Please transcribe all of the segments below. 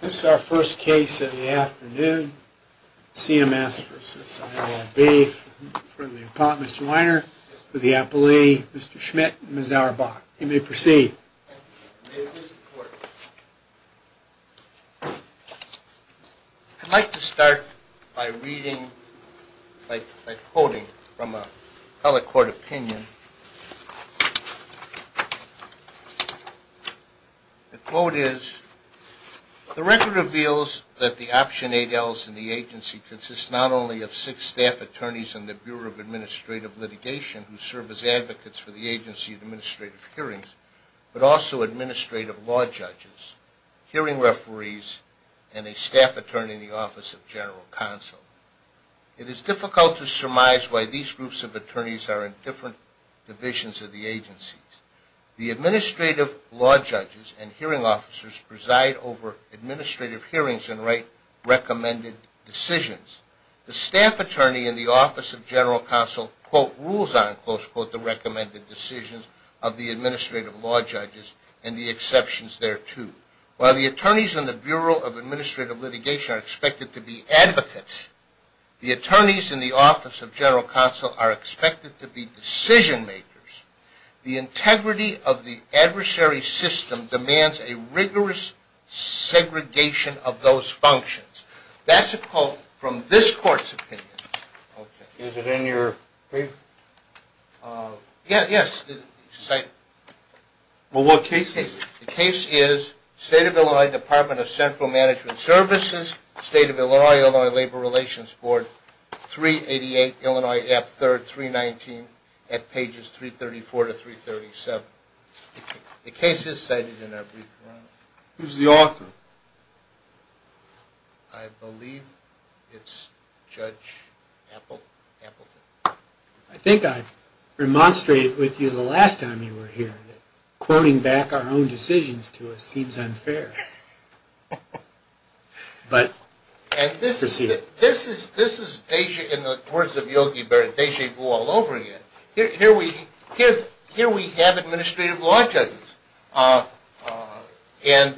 This is our first case of the afternoon, CMS v. ILL-B, from the apartment of Mr. Weiner, the appellee Mr. Schmidt and Ms. Auerbach. You may proceed. I'd like to start by reading, by quoting from a public court opinion. The quote is, The record reveals that the Option 8Ls in the agency consist not only of six staff attorneys in the Bureau of Administrative Litigation who serve as advocates for the agency in administrative hearings, but also administrative law judges, hearing referees, and a staff attorney in the Office of General Counsel. It is difficult to surmise why these groups of attorneys are in different divisions of the agencies. The administrative law judges and hearing officers preside over administrative hearings and write recommended decisions. The staff attorney in the Office of General Counsel, quote, rules on, close quote, the recommended decisions of the administrative law judges and the exceptions thereto. While the attorneys in the Bureau of Administrative Litigation are expected to be advocates, the attorneys in the Office of General Counsel are expected to be decision makers. The integrity of the adversary system demands a rigorous segregation of those functions. That's a quote from this court's opinion. Is it in your paper? Yes. Well, what case is it? The case is State of Illinois Department of Central Management Services, State of Illinois-Illinois Labor Relations Board, 388 Illinois Ave. 3rd, 319 at pages 334 to 337. The case is cited in our brief. Who's the author? I believe it's Judge Appleton. I think I remonstrated with you the last time you were here that quoting back our own decisions to us seems unfair. And this is Deja in the words of Yogi Berra, Deja vu all over again. Here we have administrative law judges and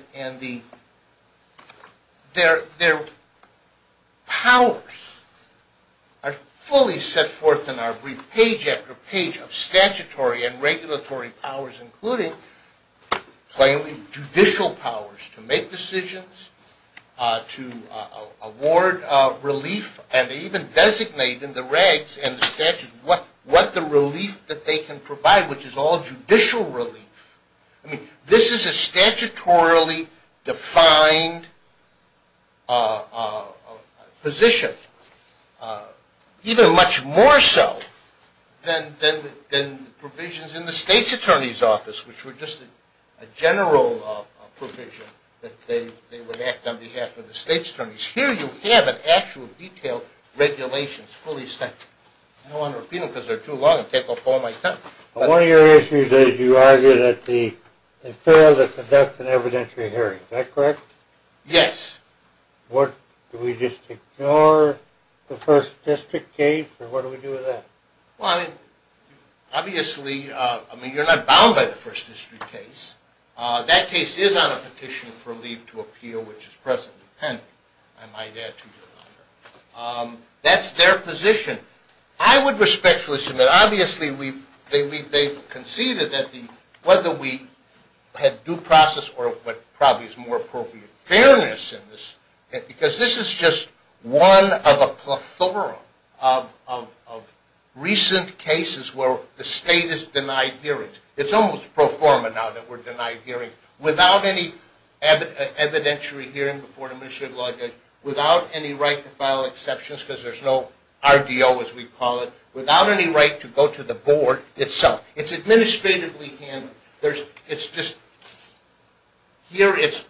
their powers are fully set forth in our brief page after page of statutory and regulatory powers, including plainly judicial powers. To make decisions, to award relief, and even designate in the regs and the statutes what the relief that they can provide, which is all judicial relief. I mean, this is a statutorily defined position, even much more so than provisions in the state's attorney's office, which were just a general provision that they would act on behalf of the state's attorneys. Here you have an actual detailed regulations fully set. I don't want to repeat them because they're too long and take up all my time. One of your issues is you argue that it's fair to conduct an evidentiary hearing. Is that correct? Yes. What, do we just ignore the First District case, or what do we do with that? Well, I mean, obviously, I mean, you're not bound by the First District case. That case is on a petition for relief to appeal, which is presently pending, I might add to your honor. That's their position. I would respectfully submit, obviously, they've conceded that whether we had due process or what probably is more appropriate, fairness in this. Because this is just one of a plethora of recent cases where the state has denied hearings. It's almost pro forma now that we're denied hearings without any evidentiary hearing before an administrative law judge, without any right to file exceptions because there's no RDO as we call it, without any right to go to the board itself. It's administratively handled. It's just, here it's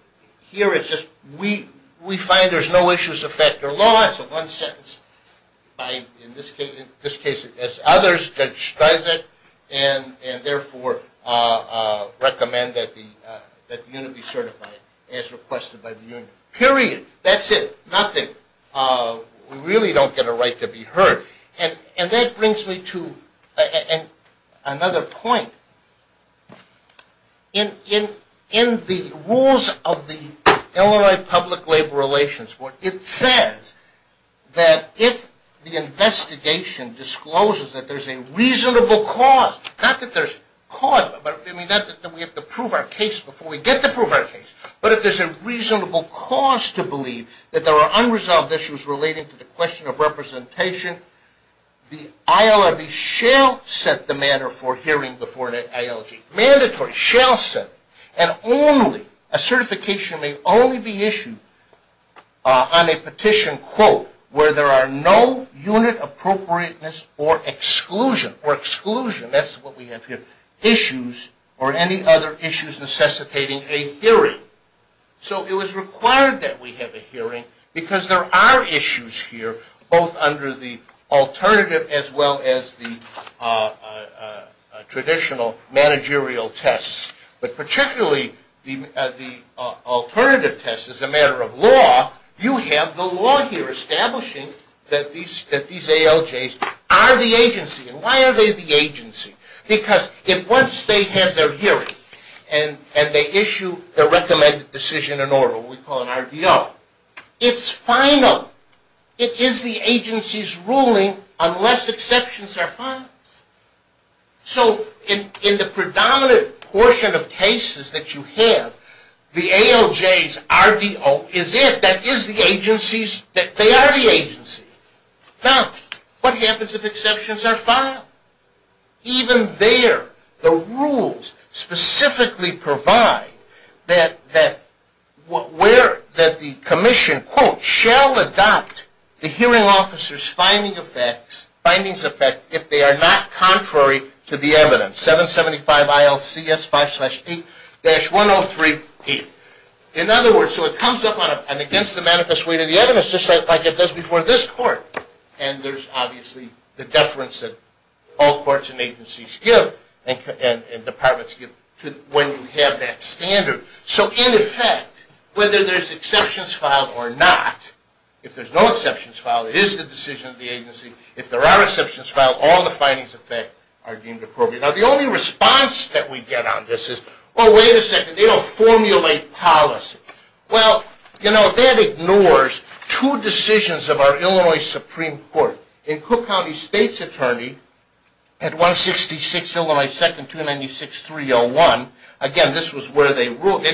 just, we find there's no issues of fact or law. It's one sentence. In this case, as others, Judge Streisand, and therefore recommend that the unit be certified as requested by the union. Period. That's it. Nothing. We really don't get a right to be heard. And that brings me to another point. In the rules of the Illinois Public Labor Relations Board, it says that if the investigation discloses that there's a reasonable cause, not that there's cause, but I mean not that we have to prove our case before we get to prove our case, but if there's a reasonable cause to believe that there are unresolved issues relating to the question of representation, the ILRB shall set the manner for hearing before an ILG. Mandatory. Shall set it. And only, a certification may only be issued on a petition, quote, where there are no unit appropriateness or exclusion, or exclusion, that's what we have here, issues or any other issues necessitating a hearing. So it was required that we have a hearing because there are issues here, both under the alternative as well as the traditional managerial tests. But particularly the alternative test, as a matter of law, you have the law here establishing that these ALJs are the agency. And why are they the agency? Because if once they have their hearing and they issue their recommended decision in order, what we call an RDO, it's final. It is the agency's ruling unless exceptions are found. So in the predominant portion of cases that you have, the ALJ's RDO is it. That is the agency's, they are the agency. Now, what happens if exceptions are found? Even there, the rules specifically provide that the commission, quote, shall adopt the hearing officer's findings effect if they are not contrary to the evidence. 775 ILCS 5-D-103P. In other words, so it comes up against the manifest weight of the evidence just like it does before this court. And there's obviously the deference that all courts and agencies give and departments give when you have that standard. So in effect, whether there's exceptions filed or not, if there's no exceptions filed, it is the decision of the agency. If there are exceptions filed, all the findings of that are deemed appropriate. Now, the only response that we get on this is, oh, wait a second, they don't formulate policy. Well, you know, that ignores two decisions of our Illinois Supreme Court. In Cook County State's attorney at 166 Illinois 2-296-301, again, this was where they ruled.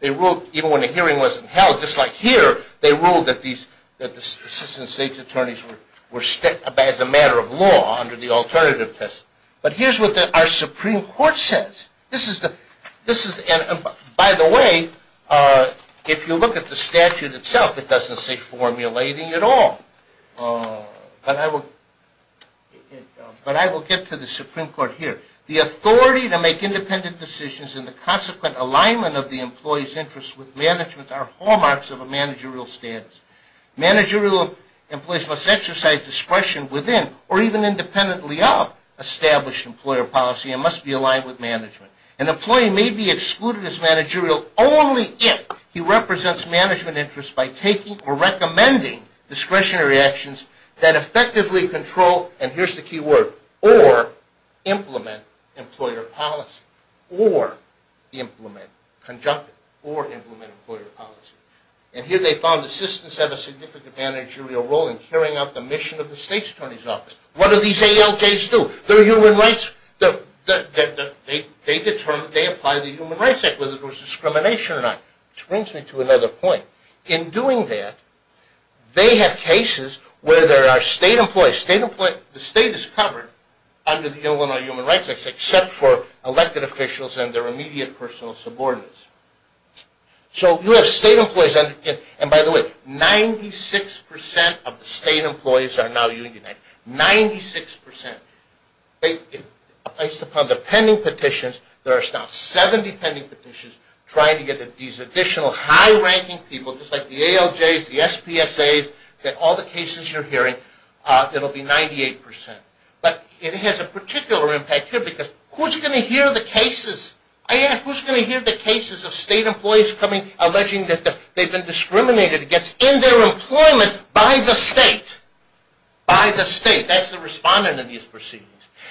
They ruled even when the hearing wasn't held, just like here, they ruled that the assistant state's attorneys were as a matter of law under the alternative test. But here's what our Supreme Court says. By the way, if you look at the statute itself, it doesn't say formulating at all. But I will get to the Supreme Court here. The authority to make independent decisions and the consequent alignment of the employee's interests with management are hallmarks of a managerial status. Managerial employees must exercise discretion within or even independently of established employer policy and must be aligned with management. An employee may be excluded as managerial only if he represents management interests by taking or recommending discretionary actions that effectively control, and here's the key word, or implement employer policy, or implement conjunctive, or implement employer policy. And here they found assistants have a significant managerial role in carrying out the mission of the state's attorney's office. What do these ALJs do? They apply the Human Rights Act, whether it was discrimination or not, which brings me to another point. In doing that, they have cases where there are state employees. The state is covered under the Illinois Human Rights Act, except for elected officials and their immediate personal subordinates. So you have state employees. And by the way, 96% of the state employees are now unionized. Ninety-six percent. Based upon the pending petitions, there are now 70 pending petitions trying to get these additional high-ranking people, just like the ALJs, the SPSAs, get all the cases you're hearing. It'll be 98%. But it has a particular impact here because who's going to hear the cases? I ask, who's going to hear the cases of state employees alleging that they've been discriminated against in their employment by the state? By the state. That's the respondent in these proceedings.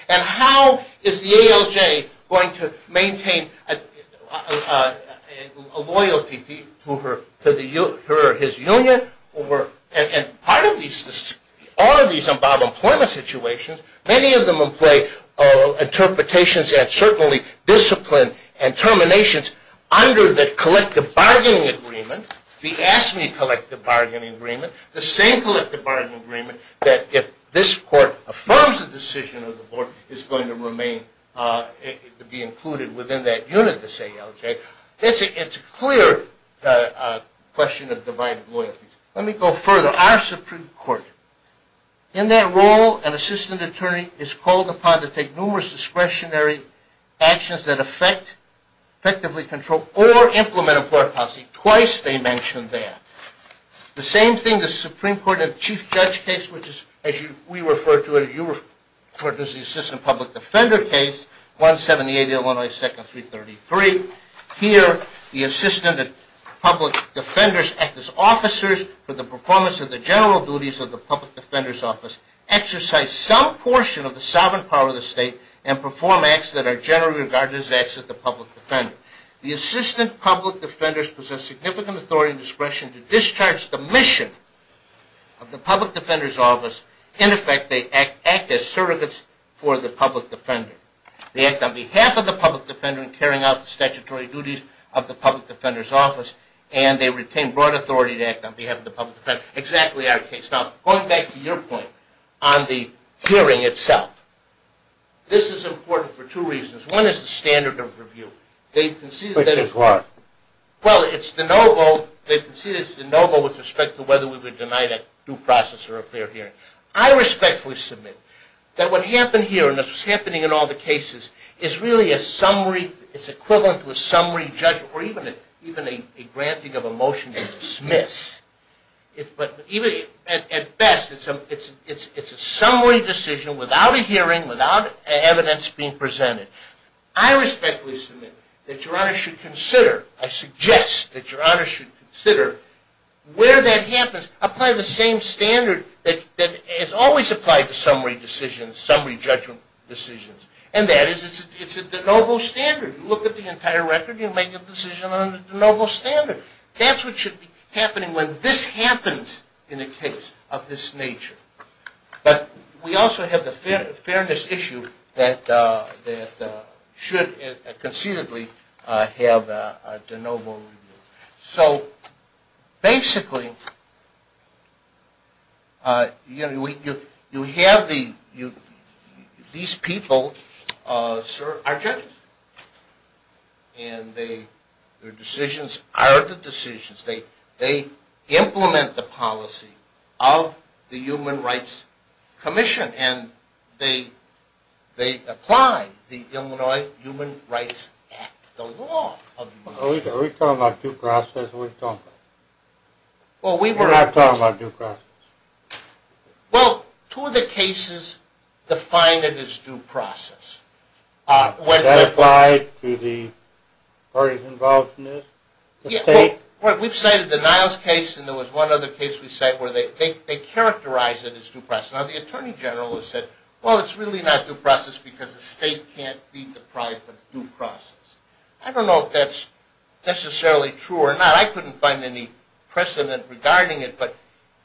And how is the ALJ going to maintain a loyalty to her or his union? And part of these are these above-employment situations. Many of them employ interpretations and certainly discipline and terminations under the collective bargaining agreement, the AFSCME collective bargaining agreement, the same collective bargaining agreement, that if this court affirms the decision of the board is going to be included within that unit, the ALJ, it's a clear question of divided loyalties. Let me go further. Our Supreme Court, in that role, an assistant attorney is called upon to take numerous discretionary actions that affect, effectively control, or implement a court policy. Twice they mention that. The same thing, the Supreme Court in a chief judge case, which is, as we refer to it, as the assistant public defender case, 178 Illinois 2nd, 333. Here, the assistant public defenders act as officers for the performance of the general duties of the public defender's office, exercise some portion of the sovereign power of the state, and perform acts that are generally regarded as acts of the public defender. The assistant public defenders possess significant authority and discretion to discharge the mission of the public defender's office. In effect, they act as surrogates for the public defender. They act on behalf of the public defender in carrying out the statutory duties of the public defender's office, and they retain broad authority to act on behalf of the public defender. Exactly our case. Now, going back to your point on the hearing itself, this is important for two reasons. One is the standard of review. They concede that it's… Which is what? I respectfully submit that what happened here and what's happening in all the cases is really a summary… It's equivalent to a summary judgment or even a granting of a motion to dismiss. But even at best, it's a summary decision without a hearing, without evidence being presented. I respectfully submit that Your Honor should consider… I suggest that Your Honor should consider where that happens. Apply the same standard that is always applied to summary decisions, summary judgment decisions, and that is it's a de novo standard. You look at the entire record, you make a decision on the de novo standard. That's what should be happening when this happens in a case of this nature. But we also have the fairness issue that should concededly have a de novo review. So, basically, you have the… These people are judges and their decisions are the decisions. They implement the policy of the Human Rights Commission and they apply the Illinois Human Rights Act, the law of the… Are we talking about due process or are we talking about… We're not talking about due process. Well, two of the cases define it as due process. Is that applied to the parties involved in this? We've cited the Niles case and there was one other case we cited where they characterized it as due process. Now, the Attorney General has said, well, it's really not due process because the state can't be deprived of due process. I don't know if that's necessarily true or not. I couldn't find any precedent regarding it, but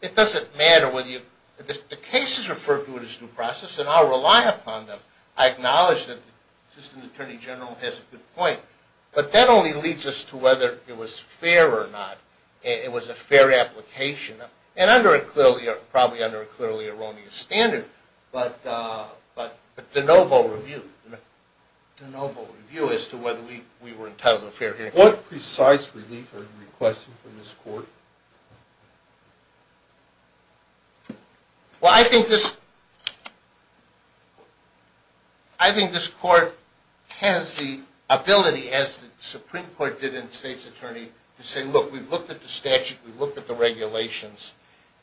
it doesn't matter whether you… The case is referred to as due process and I'll rely upon them. I acknowledge that the Assistant Attorney General has a good point, but that only leads us to whether it was fair or not. It was a fair application and probably under a clearly erroneous standard, but de novo review as to whether we were entitled to a fair hearing. What precise relief are you requesting from this Court? Well, I think this… I think this Court has the ability, as the Supreme Court did in State's Attorney, to say, look, we've looked at the statute, we've looked at the regulations,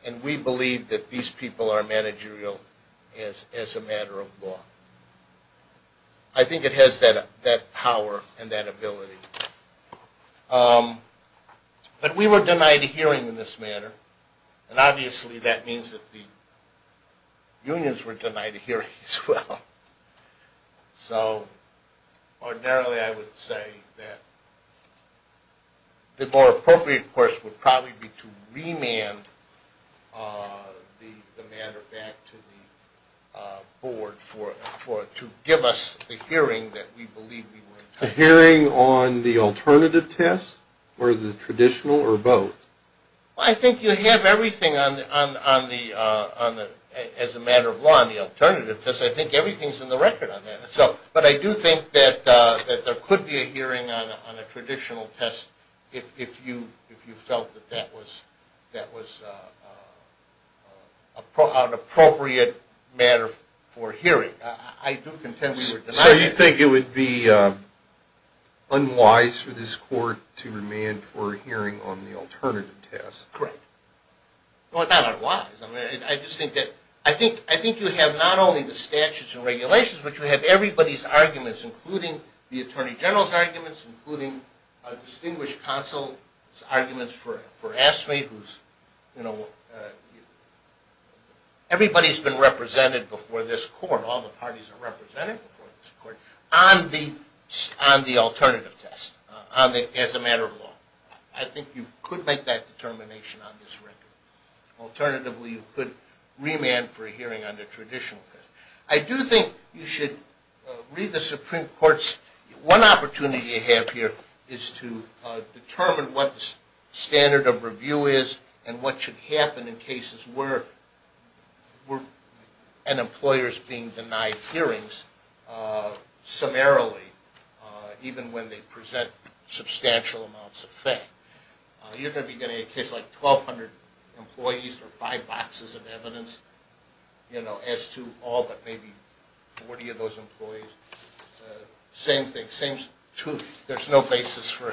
and we believe that these people are managerial as a matter of law. I think it has that power and that ability. But we were denied a hearing in this matter, and obviously that means that the unions were denied a hearing as well. So ordinarily I would say that the more appropriate course would probably be to remand the matter back to the Board to give us the hearing that we believe we were entitled to. A hearing on the alternative test or the traditional or both? I think you have everything as a matter of law on the alternative test. I think everything is in the record on that. But I do think that there could be a hearing on a traditional test if you felt that that was an appropriate matter for hearing. So you think it would be unwise for this Court to remand for a hearing on the alternative test? Well, it's not unwise. I think you have not only the statutes and regulations, but you have everybody's arguments, including the Attorney General's arguments, including a distinguished counsel's arguments for AFSCME. Everybody's been represented before this Court, all the parties are represented before this Court, on the alternative test as a matter of law. I think you could make that determination on this record. Alternatively, you could remand for a hearing on the traditional test. I do think you should read the Supreme Court's – one opportunity you have here is to determine what the standard of review is and what should happen in cases where an employer is being denied hearings summarily, even when they present substantial amounts of fact. You're going to be getting a case like 1,200 employees for five boxes of evidence, as to all but maybe 40 of those employees. Same thing, there's no basis for,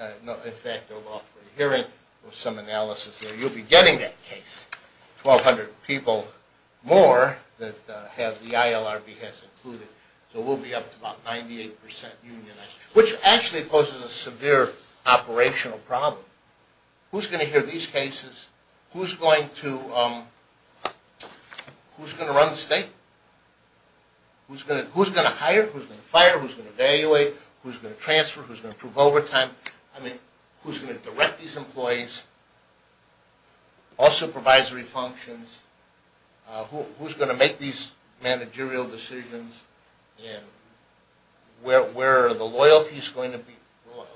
in fact, a lawful hearing or some analysis there. You'll be getting that case. 1,200 people more that the ILRB has included. So we'll be up to about 98 percent unionized, which actually poses a severe operational problem. Who's going to hear these cases? Who's going to run the state? Who's going to hire? Who's going to fire? Who's going to evaluate? Who's going to transfer? Who's going to approve overtime? I mean, who's going to direct these employees? All supervisory functions. Who's going to make these managerial decisions? Where are the loyalties going to be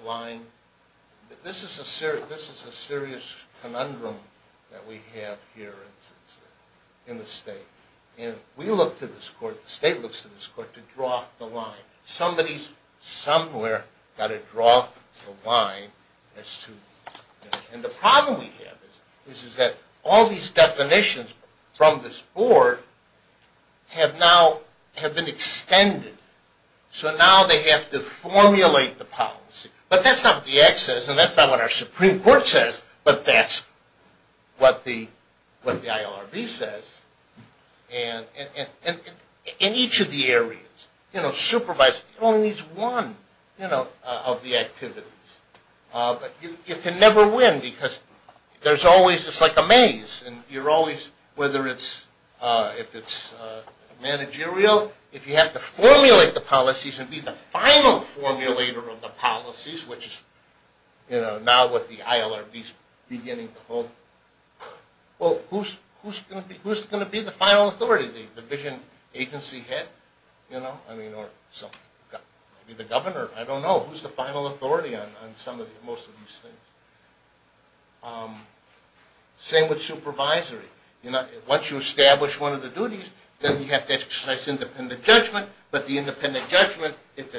aligned? This is a serious conundrum that we have here in the state. And we look to this court, the state looks to this court, to draw the line. Somebody's somewhere got to draw the line. And the problem we have is that all these definitions from this board have now been extended. So now they have to formulate the policy. But that's not what the Act says, and that's not what our Supreme Court says, but that's what the ILRB says. And in each of the areas, you know, supervising only needs one of the activities. But you can never win because there's always just like a maze. And you're always, whether it's if it's managerial, if you have to formulate the policies and be the final formulator of the policies, which is now what the ILRB is beginning to hold. Well, who's going to be the final authority? The division agency head, you know? I mean, or maybe the governor. I don't know. Who's the final authority on most of these things? Same with supervisory. Once you establish one of the duties, then you have to exercise independent judgment. But the independent judgment, if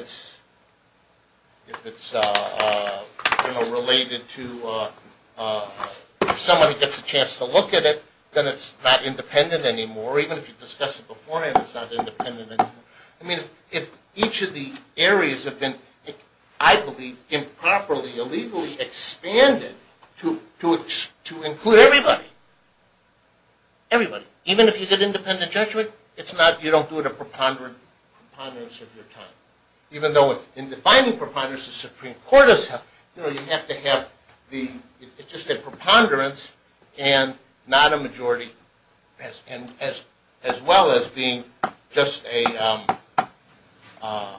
it's, you know, related to somebody gets a chance to look at it, then it's not independent anymore. Even if you discuss it beforehand, it's not independent anymore. I mean, if each of the areas have been, I believe, improperly, illegally expanded to include everybody, everybody, even if you get independent judgment, it's not, you don't do it a preponderance of your time. Even though in defining preponderance, the Supreme Court does have, you know, you have to have the, it's just a preponderance and not a majority as well as being just a, all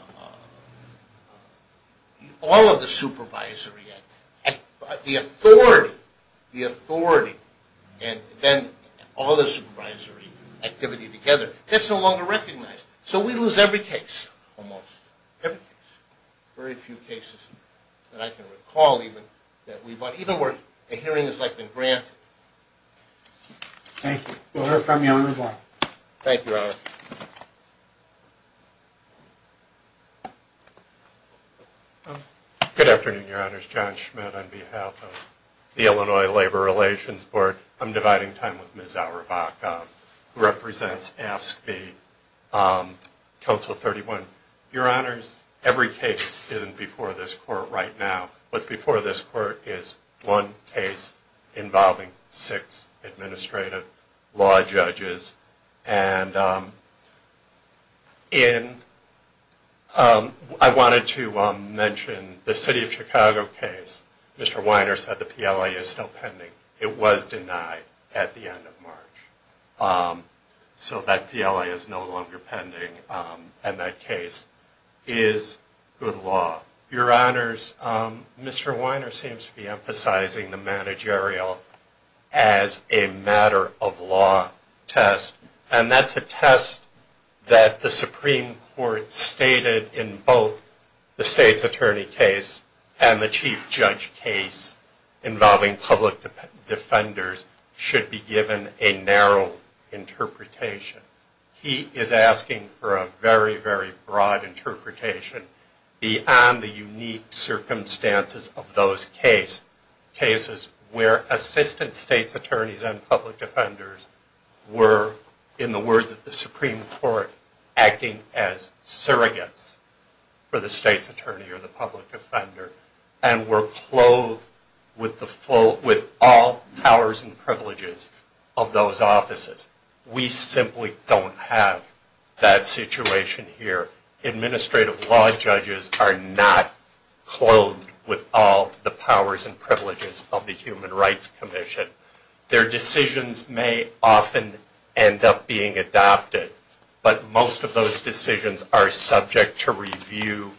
of the supervisory. The authority, the authority, and then all the supervisory activity together, that's no longer recognized. So we lose every case, almost every case. Very few cases that I can recall even that we've, even where a hearing has like been granted. Thank you. We'll hear from you on this one. Thank you, Your Honor. Good afternoon, Your Honors. John Schmidt on behalf of the Illinois Labor Relations Board. I'm dividing time with Ms. Auerbach, who represents AFSCME, Council 31. Your Honors, every case isn't before this court right now. What's before this court is one case involving six administrative law judges. And in, I wanted to mention the City of Chicago case. Mr. Weiner said the PLA is still pending. It was denied at the end of March. So that PLA is no longer pending. And that case is good law. Your Honors, Mr. Weiner seems to be emphasizing the managerial as a matter of law test. And that's a test that the Supreme Court stated in both the State's Attorney case and the Chief Judge case involving public defenders should be given a narrow interpretation. He is asking for a very, very broad interpretation beyond the unique circumstances of those cases where Assistant State's Attorneys and public defenders were, in the words of the Supreme Court, acting as surrogates for the State's Attorney or the public defender and were clothed with all powers and privileges of those offices. We simply don't have that situation here. Administrative law judges are not clothed with all the powers and privileges of the Human Rights Commission. Their decisions may often end up being adopted. But most of those decisions are subject to review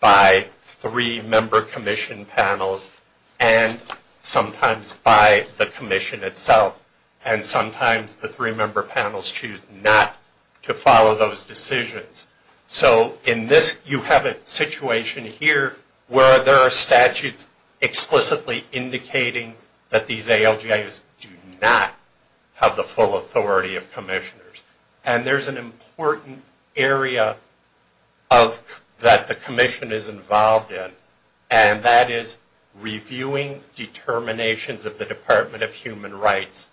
by three member commission panels and sometimes by the commission itself. And sometimes the three member panels choose not to follow those decisions. So in this, you have a situation here where there are statutes explicitly indicating that these ALJs do not have the full authority of commissioners. And there's an important area that the commission is involved in. And that is reviewing determinations of the Department of Human Rights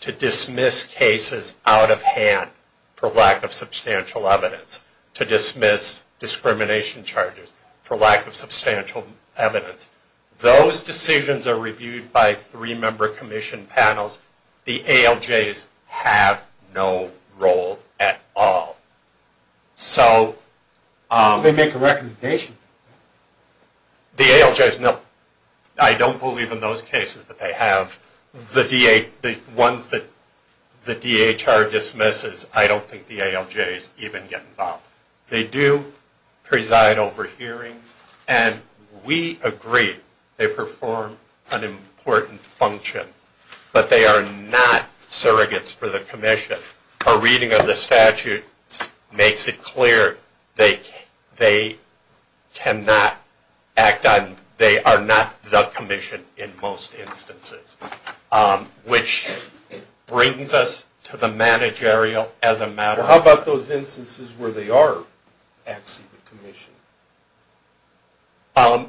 to dismiss cases out of hand for lack of substantial evidence, to dismiss discrimination charges for lack of substantial evidence. Those decisions are reviewed by three member commission panels. The ALJs have no role at all. So... They make a recommendation. The ALJs, no. I don't believe in those cases that they have. The ones that the DHR dismisses, I don't think the ALJs even get involved. They do preside over hearings. And we agree they perform an important function. But they are not surrogates for the commission. A reading of the statute makes it clear they cannot act on, they are not the commission in most instances, which brings us to the managerial as a matter of... Well, how about those instances where they are actually the commission? Aren't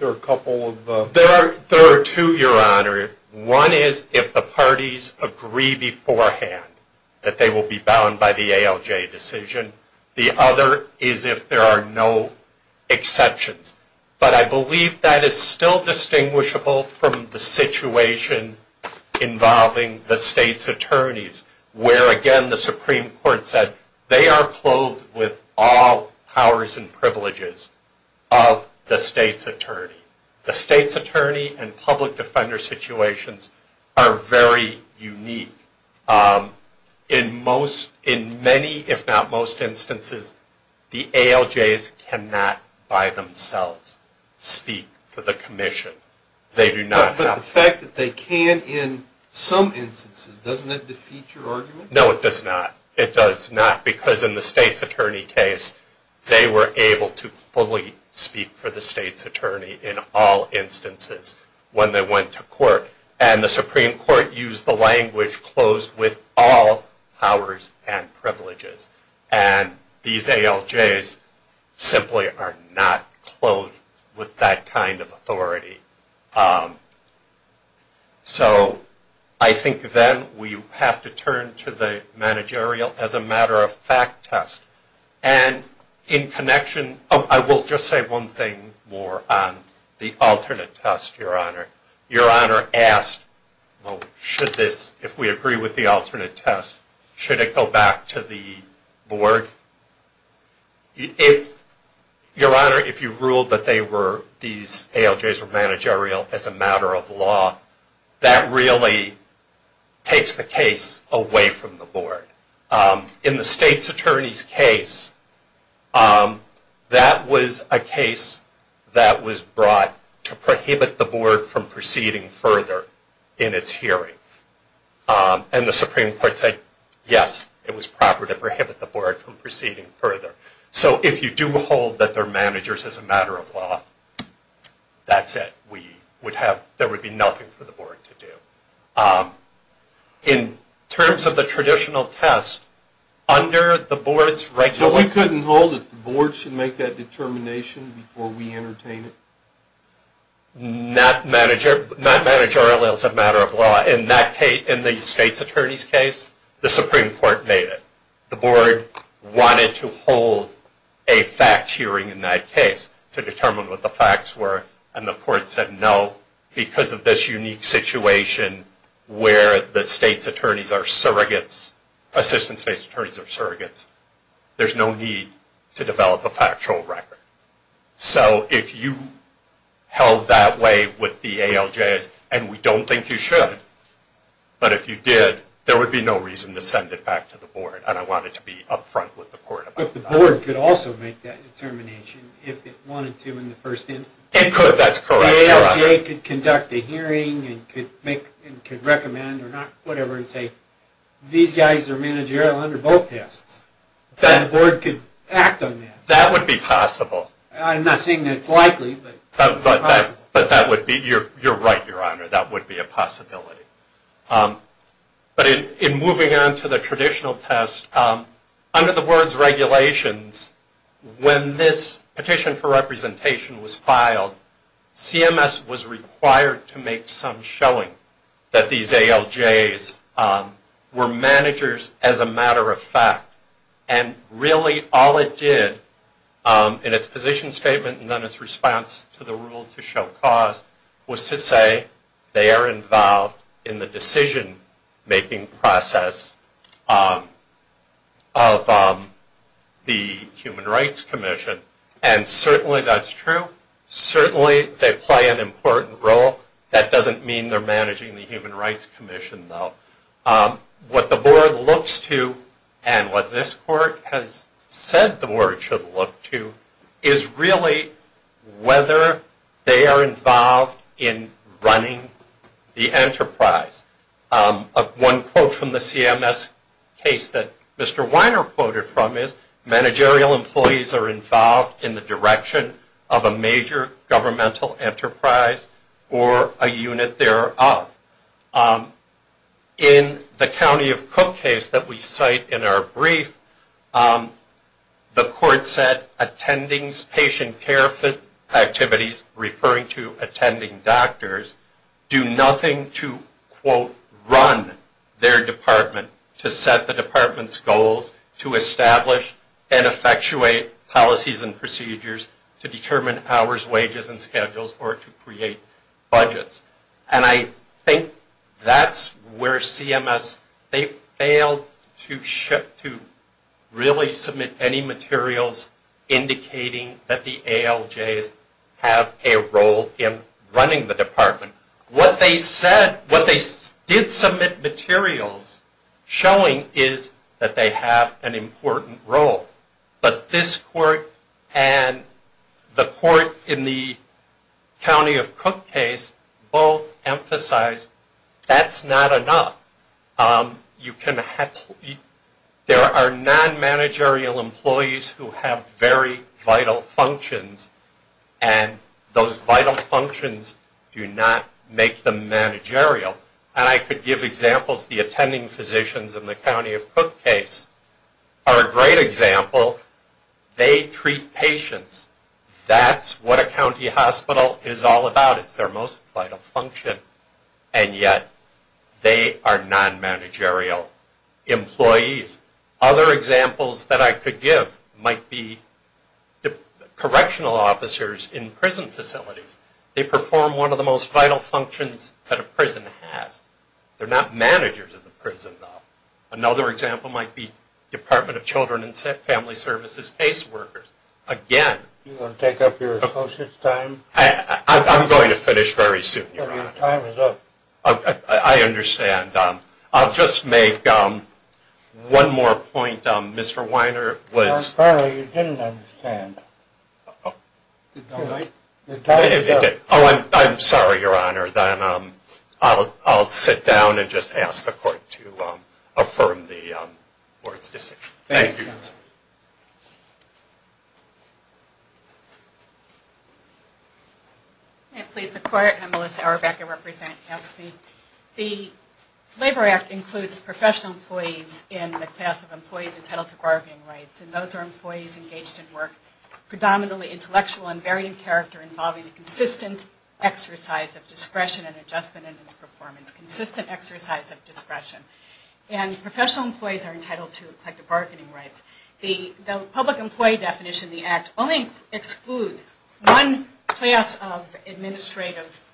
there a couple of... There are two, Your Honor. One is if the parties agree beforehand that they will be bound by the ALJ decision. The other is if there are no exceptions. But I believe that is still distinguishable from the situation involving the state's attorneys, where, again, the Supreme Court said they are clothed with all powers and privileges of the state's attorney. The state's attorney and public defender situations are very unique. In many, if not most, instances, the ALJs cannot by themselves speak for the commission. They do not have... But the fact that they can in some instances, doesn't that defeat your argument? No, it does not. It does not, because in the state's attorney case, they were able to fully speak for the state's attorney in all instances when they went to court. And the Supreme Court used the language, closed with all powers and privileges. And these ALJs simply are not clothed with that kind of authority. So I think then we have to turn to the managerial as a matter of fact test. And in connection... Oh, I will just say one thing more on the alternate test, Your Honor. Your Honor asked, well, should this... If we agree with the alternate test, should it go back to the board? If... Your Honor, if you ruled that they were, these ALJs were managerial as a matter of law, that really takes the case away from the board. In the state's attorney's case, that was a case that was brought to prohibit the board from proceeding further in its hearing. And the Supreme Court said, yes, it was proper to prohibit the board from proceeding further. So if you do hold that they're managers as a matter of law, that's it. We would have... There would be nothing for the board to do. In terms of the traditional test, under the board's regular... So we couldn't hold it? The board should make that determination before we entertain it? Not managerial as a matter of law. In the state's attorney's case, the Supreme Court made it. The board wanted to hold a fact hearing in that case to determine what the facts were. And the court said, no, because of this unique situation where the state's attorneys are surrogates, assistant state's attorneys are surrogates, there's no need to develop a factual record. So if you held that way with the ALJs, and we don't think you should, but if you did, there would be no reason to send it back to the board. And I want it to be up front with the court about that. But the board could also make that determination if it wanted to in the first instance? It could, that's correct. The ALJ could conduct a hearing and could recommend or not, whatever, and say, these guys are managerial under both tests. And the board could act on that. That would be possible. I'm not saying that's likely, but it's possible. But that would be, you're right, Your Honor, that would be a possibility. But in moving on to the traditional test, under the board's regulations, when this petition for representation was filed, CMS was required to make some showing that these ALJs were managers as a matter of fact. And really all it did in its position statement and then its response to the rule to show cause, was to say they are involved in the decision-making process of the Human Rights Commission. And certainly that's true. Certainly they play an important role. That doesn't mean they're managing the Human Rights Commission, though. What the board looks to, and what this court has said the board should look to, is really whether they are involved in running the enterprise. One quote from the CMS case that Mr. Weiner quoted from is, managerial employees are involved in the direction of a major governmental enterprise or a unit thereof. In the County of Cook case that we cite in our brief, the court said attending patient care activities, referring to attending doctors, do nothing to, quote, run their department to set the department's goals to establish and effectuate policies and procedures to determine hours, wages, and schedules, or to create budgets. And I think that's where CMS, they failed to really submit any materials indicating that the ALJs have a role in running the department. What they said, what they did submit materials showing is that they have an important role. But this court and the court in the County of Cook case both emphasized that's not enough. There are non-managerial employees who have very vital functions, and those vital functions do not make them managerial. And I could give examples of the attending physicians in the County of Cook case are a great example. They treat patients. That's what a county hospital is all about. It's their most vital function, and yet they are non-managerial employees. Other examples that I could give might be correctional officers in prison facilities. They perform one of the most vital functions that a prison has. They're not managers of the prison, though. Another example might be Department of Children and Family Services case workers. Again. You want to take up your associates' time? I'm going to finish very soon, Your Honor. Your time is up. I understand. I'll just make one more point. Mr. Weiner was... Apparently you didn't understand. Your time is up. Oh, I'm sorry, Your Honor. Then I'll sit down and just ask the Court to affirm the Board's decision. Thank you. May it please the Court. I'm Melissa Auerbach. I represent Caspi. The Labor Act includes professional employees in the class of employees entitled to bargaining rights, and those are employees engaged in work predominantly intellectual and varying character involving a consistent exercise of discretion and adjustment in its performance. Consistent exercise of discretion. And professional employees are entitled to collective bargaining rights. The public employee definition of the Act only excludes one class of administrative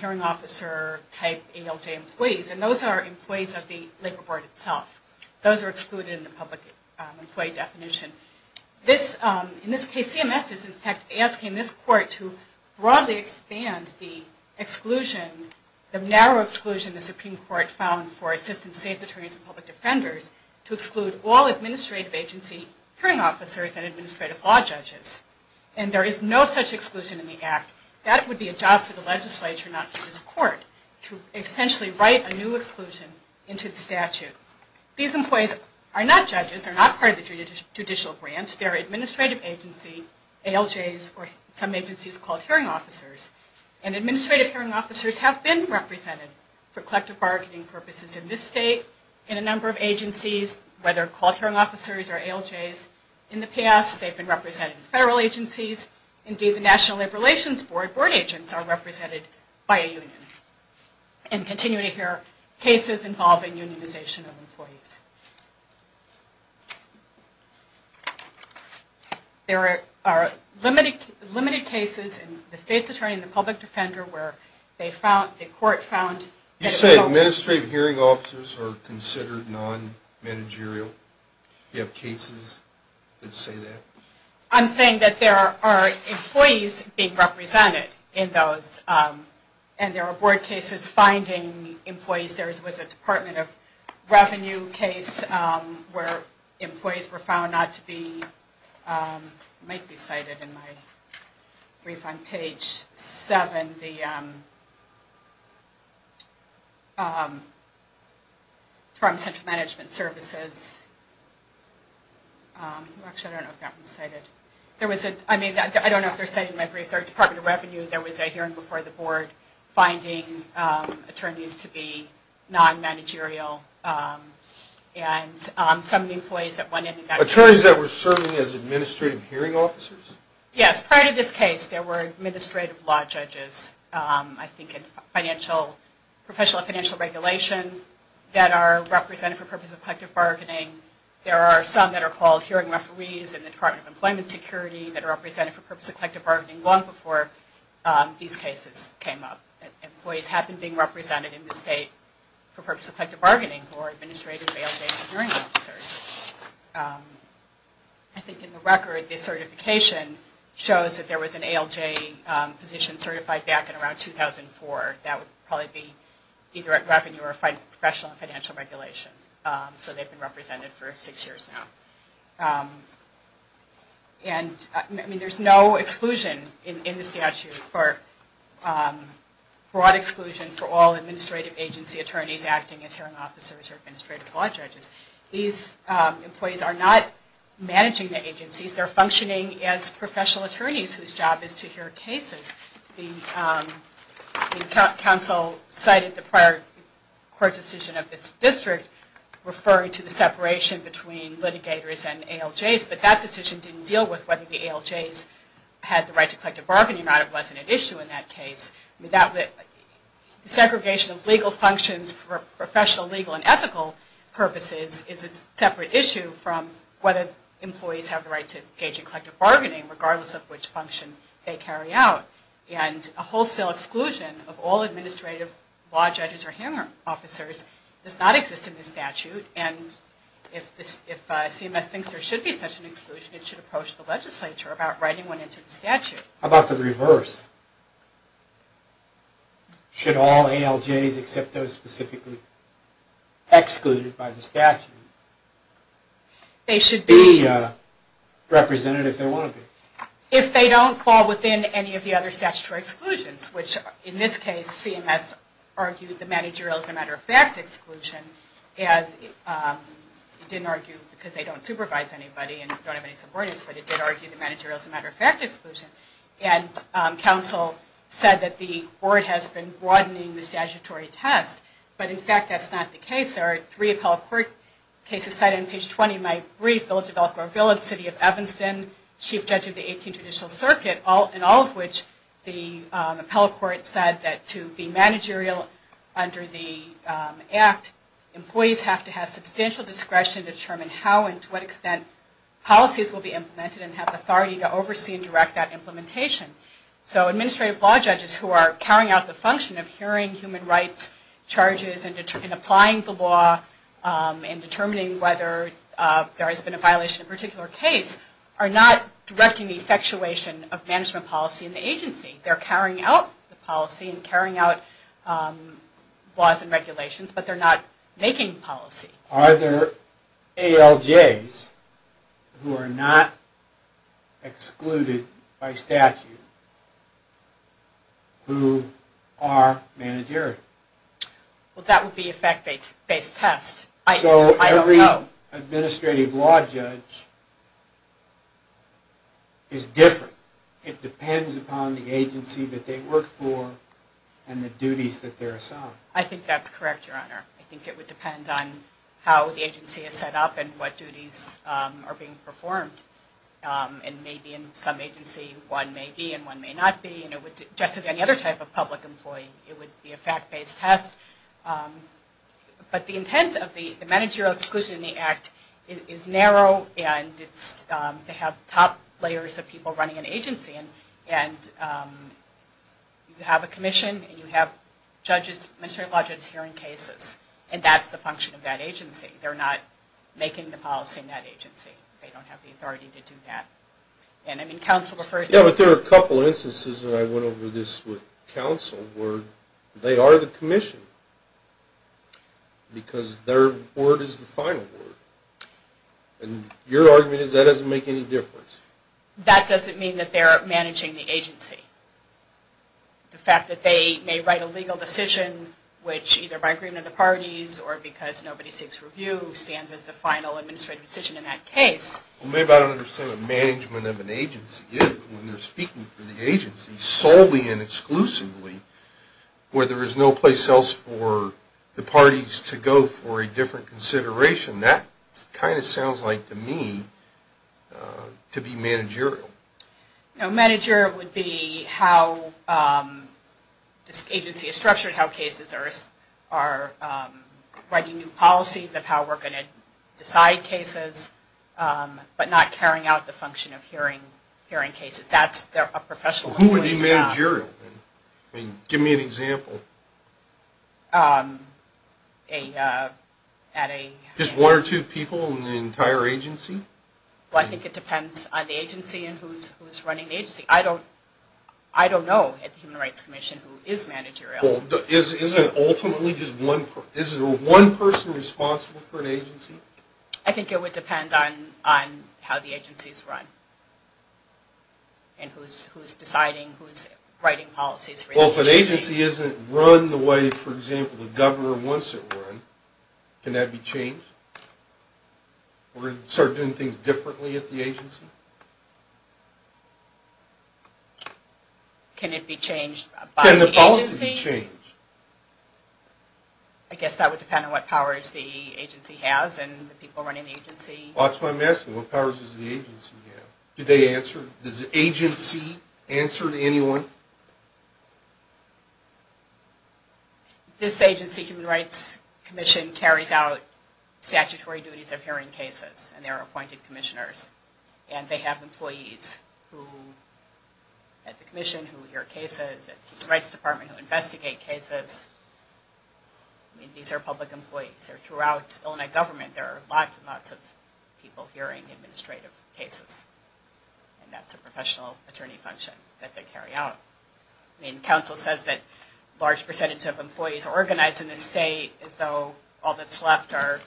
hearing officer type ALJ employees, and those are employees of the Labor Board itself. Those are excluded in the public employee definition. In this case, CMS is in fact asking this Court to broadly expand the exclusion, the narrow exclusion the Supreme Court found for assistant state's attorneys and public defenders to exclude all administrative agency hearing officers and administrative law judges. And there is no such exclusion in the Act. That would be a job for the legislature, not for this Court, to essentially write a new exclusion into the statute. These employees are not judges. They're not part of the judicial branch. They're administrative agency ALJs or some agencies called hearing officers. And administrative hearing officers have been represented for collective bargaining purposes in this state, in a number of agencies, whether called hearing officers or ALJs. In the past, they've been represented in federal agencies. Indeed, the National Labor Relations Board board agents are represented by a union and continue to hear cases involving unionization of employees. There are limited cases in the state's attorney and the public defender where they found, the Court found... You said administrative hearing officers are considered non-managerial. Do you have cases that say that? I'm saying that there are employees being represented in those. And there are board cases finding employees. There was a Department of Revenue case where employees were found not to be... It might be cited in my brief on page 7. There was a hearing before the board finding attorneys to be non-managerial. Attorneys that were serving as administrative hearing officers? Yes, prior to this case, there were administrative law judges. I think in professional financial regulation that are represented for purpose of collective bargaining. There are some that are called hearing referees in the Department of Employment Security that are represented for purpose of collective bargaining long before these cases came up. Employees have been being represented in the state for purpose of collective bargaining for administrative ALJs and hearing officers. I think in the record, the certification shows that there was an ALJ position certified back in around 2004. That would probably be either at revenue or professional financial regulation. So they've been represented for six years now. And there's no exclusion in the statute, or broad exclusion for all administrative agency attorneys acting as hearing officers or administrative law judges. These employees are not managing the agencies. They're functioning as professional attorneys whose job is to hear cases. The council cited the prior court decision of this district referring to the separation between litigators and ALJs, but that decision didn't deal with whether the ALJs had the right to collective bargaining or not. It wasn't an issue in that case. Segregation of legal functions for professional, legal, and ethical purposes is a separate issue from whether employees have the right to engage in collective bargaining, regardless of which function they carry out. And a wholesale exclusion of all administrative law judges or hearing officers does not exist in this statute. And if CMS thinks there should be such an exclusion, it should approach the legislature about writing one into the statute. How about the reverse? Should all ALJs except those specifically excluded by the statute? They should be represented if they want to be. If they don't fall within any of the other statutory exclusions, which in this case CMS argued the managerial as a matter of fact exclusion, it didn't argue because they don't supervise anybody and don't have any subordinates, but it did argue the managerial as a matter of fact exclusion. And counsel said that the board has been broadening the statutory test, but in fact that's not the case. There are three appellate court cases cited on page 20 in my brief, Village of Elk Grove Village, City of Evanston, Chief Judge of the 18th Judicial Circuit, and all of which the appellate court said that to be managerial under the Act, employees have to have substantial discretion to determine how and to what extent policies will be implemented and have authority to oversee and direct that implementation. So administrative law judges who are carrying out the function of hearing human rights charges and applying the law and determining whether there has been a violation of a particular case are not directing the effectuation of management policy in the agency. They're carrying out the policy and carrying out laws and regulations, but they're not making policy. Are there ALJs who are not excluded by statute who are managerial? Well, that would be a fact-based test. I don't know. So every administrative law judge is different. It depends upon the agency that they work for and the duties that they're assigned. I think that's correct, Your Honor. I think it would depend on how the agency is set up and what duties are being performed. And maybe in some agency one may be and one may not be, and just as any other type of public employee, it would be a fact-based test. But the intent of the Managerial Exclusion in the Act is narrow, and it's to have top layers of people running an agency. And you have a commission and you have judges, administrative law judges, hearing cases, and that's the function of that agency. They're not making the policy in that agency. They don't have the authority to do that. Yeah, but there are a couple instances, and I went over this with counsel, where they are the commission because their word is the final word. And your argument is that doesn't make any difference. That doesn't mean that they're managing the agency. The fact that they may write a legal decision, which either by agreement of the parties or because nobody seeks review stands as the final administrative decision in that case. Well, maybe I don't understand what management of an agency is when they're speaking for the agency solely and exclusively, where there is no place else for the parties to go for a different consideration. That kind of sounds like, to me, to be managerial. No, managerial would be how this agency is structured, how cases are writing new policies of how we're going to decide cases, but not carrying out the function of hearing cases. That's a professional employee's job. Who would be managerial? Give me an example. Just one or two people in the entire agency? Well, I think it depends on the agency and who's running the agency. I don't know at the Human Rights Commission who is managerial. Is it ultimately just one person responsible for an agency? I think it would depend on how the agency is run and who's deciding who's writing policies for the agency. If the agency isn't run the way, for example, the governor wants it run, can that be changed? We're going to start doing things differently at the agency? Can it be changed by the agency? Can the policies be changed? I guess that would depend on what powers the agency has and the people running the agency. That's what I'm asking. What powers does the agency have? Do they answer? Does the agency answer to anyone? This agency, Human Rights Commission, carries out statutory duties of hearing cases, and they're appointed commissioners. They have employees at the commission who hear cases, at the Human Rights Department who investigate cases. These are public employees. Throughout Illinois government there are lots and lots of people who are hearing administrative cases, and that's a professional attorney function that they carry out. Council says that a large percentage of employees are organized in the state, as though all that's left are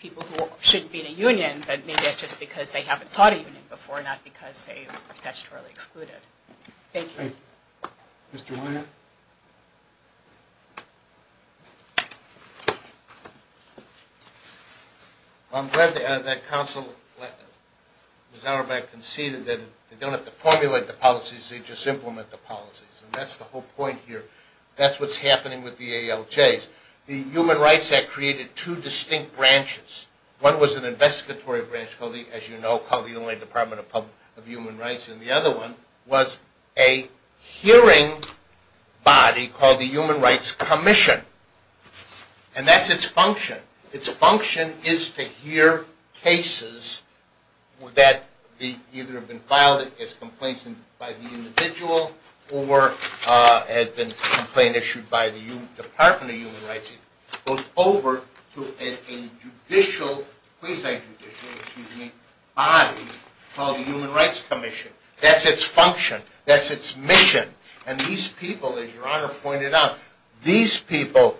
people who shouldn't be in a union, but maybe that's just because they haven't sought a union before, not because they were statutorily excluded. Thank you. Thank you. Mr. Wyatt? Well, I'm glad that Council, Ms. Auerbach, conceded that they don't have to formulate the policies, they just implement the policies, and that's the whole point here. That's what's happening with the ALJs. The Human Rights Act created two distinct branches. One was an investigatory branch, as you know, called the Illinois Department of Human Rights, and the other one was a hearing body called the Human Rights Commission, and that's its function. Its function is to hear cases that either have been filed as complaints by the individual or has been a complaint issued by the Department of Human Rights. It goes over to a judicial body called the Human Rights Commission. That's its function. That's its mission, and these people, as Your Honor pointed out, these people,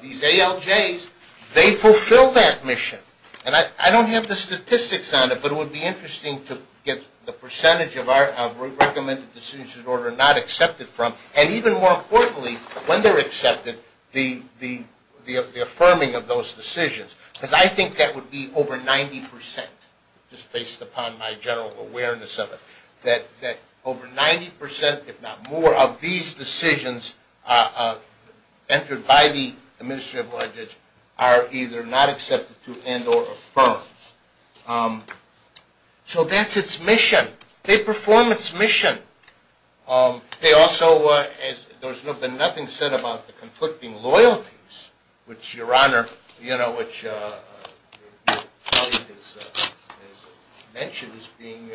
these ALJs, they fulfill that mission, and I don't have the statistics on it, but it would be interesting to get the percentage of our recommended decisions that are not accepted from, and even more importantly, when they're accepted, the affirming of those decisions, because I think that would be over 90 percent, just based upon my general awareness of it, that over 90 percent, if not more, of these decisions entered by the Ministry of Lodgings are either not accepted to and or affirmed. So that's its mission. They perform its mission. They also, as there's been nothing said about the conflicting loyalties, which Your Honor, you know, which your colleague has mentioned, is being,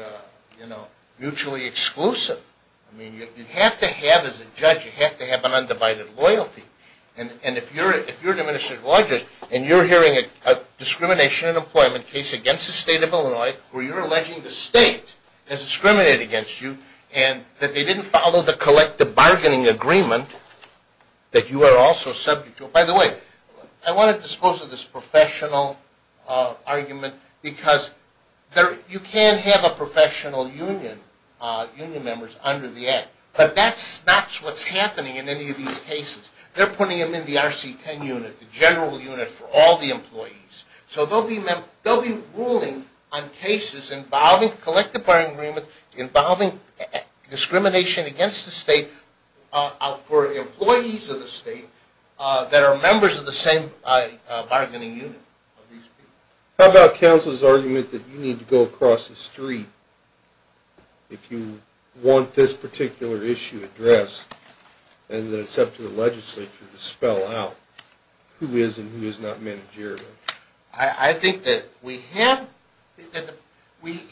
you know, mutually exclusive. I mean, you have to have, as a judge, you have to have an undivided loyalty, and if you're an administrative law judge and you're hearing a discrimination in employment case against the State of and that they didn't follow the collective bargaining agreement, that you are also subject to. By the way, I want to dispose of this professional argument, because you can have a professional union, union members, under the Act, but that's not what's happening in any of these cases. They're putting them in the RC-10 unit, the general unit for all the employees. So they'll be ruling on cases involving collective bargaining agreements, involving discrimination against the State for employees of the State that are members of the same bargaining unit. How about counsel's argument that you need to go across the street if you want this particular issue addressed, and that it's up to the legislature to spell out who is and who is not managerial? I think that we have, in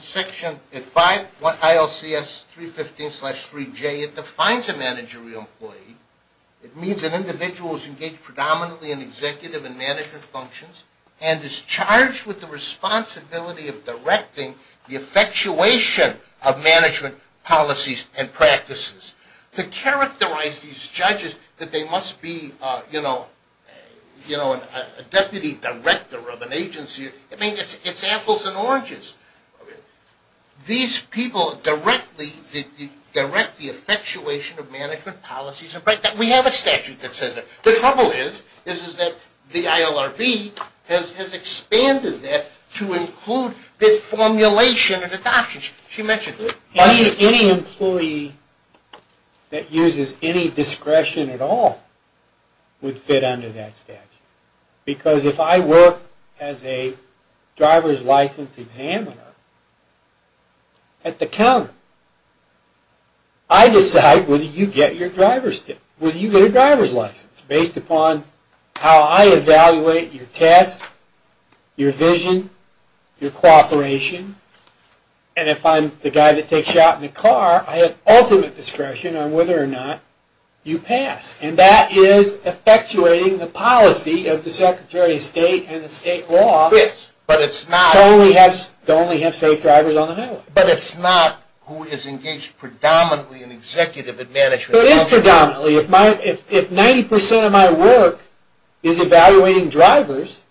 section 5, ILCS 315-3J, it defines a managerial employee. It means an individual who is engaged predominantly in executive and management functions and is charged with the responsibility of directing the effectuation of management policies and practices. To characterize these judges that they must be a deputy director of an agency, I mean, it's apples and oranges. These people direct the effectuation of management policies. We have a statute that says that. The trouble is that the ILRB has expanded that to include the formulation and adoption. Any employee that uses any discretion at all would fit under that statute. Because if I work as a driver's license examiner at the counter, I decide whether you get your driver's license based upon how I evaluate your test, your vision, your cooperation, and if I'm the guy that takes you out in the car, I have ultimate discretion on whether or not you pass. And that is effectuating the policy of the Secretary of State and the state law to only have safe drivers on the highway. But it's not who is engaged predominantly in executive and management functions. So it is predominantly. If 90% of my work is evaluating drivers,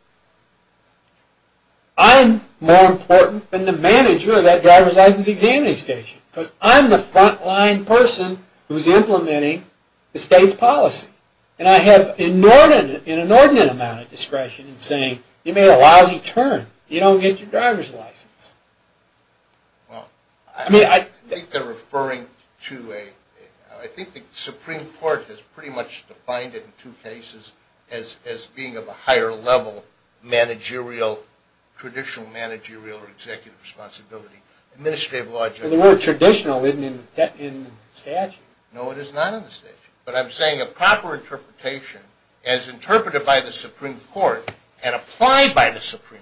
I'm more important than the manager of that driver's license examining station because I'm the front-line person who is implementing the state's policy. And I have an inordinate amount of discretion in saying, you made a lousy turn, you don't get your driver's license. Well, I think the Supreme Court has pretty much defined it in two cases as being of a higher level managerial, traditional managerial or executive responsibility. The word traditional isn't in the statute. No, it is not in the statute. But I'm saying a proper interpretation as interpreted by the Supreme Court and applied by the Supreme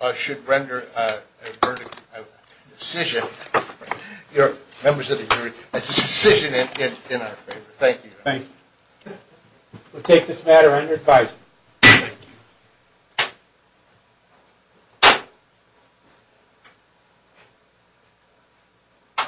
Court should render a decision, members of the jury, a decision in our favor. Thank you. Thank you. We'll take this matter under advisory. Thank you.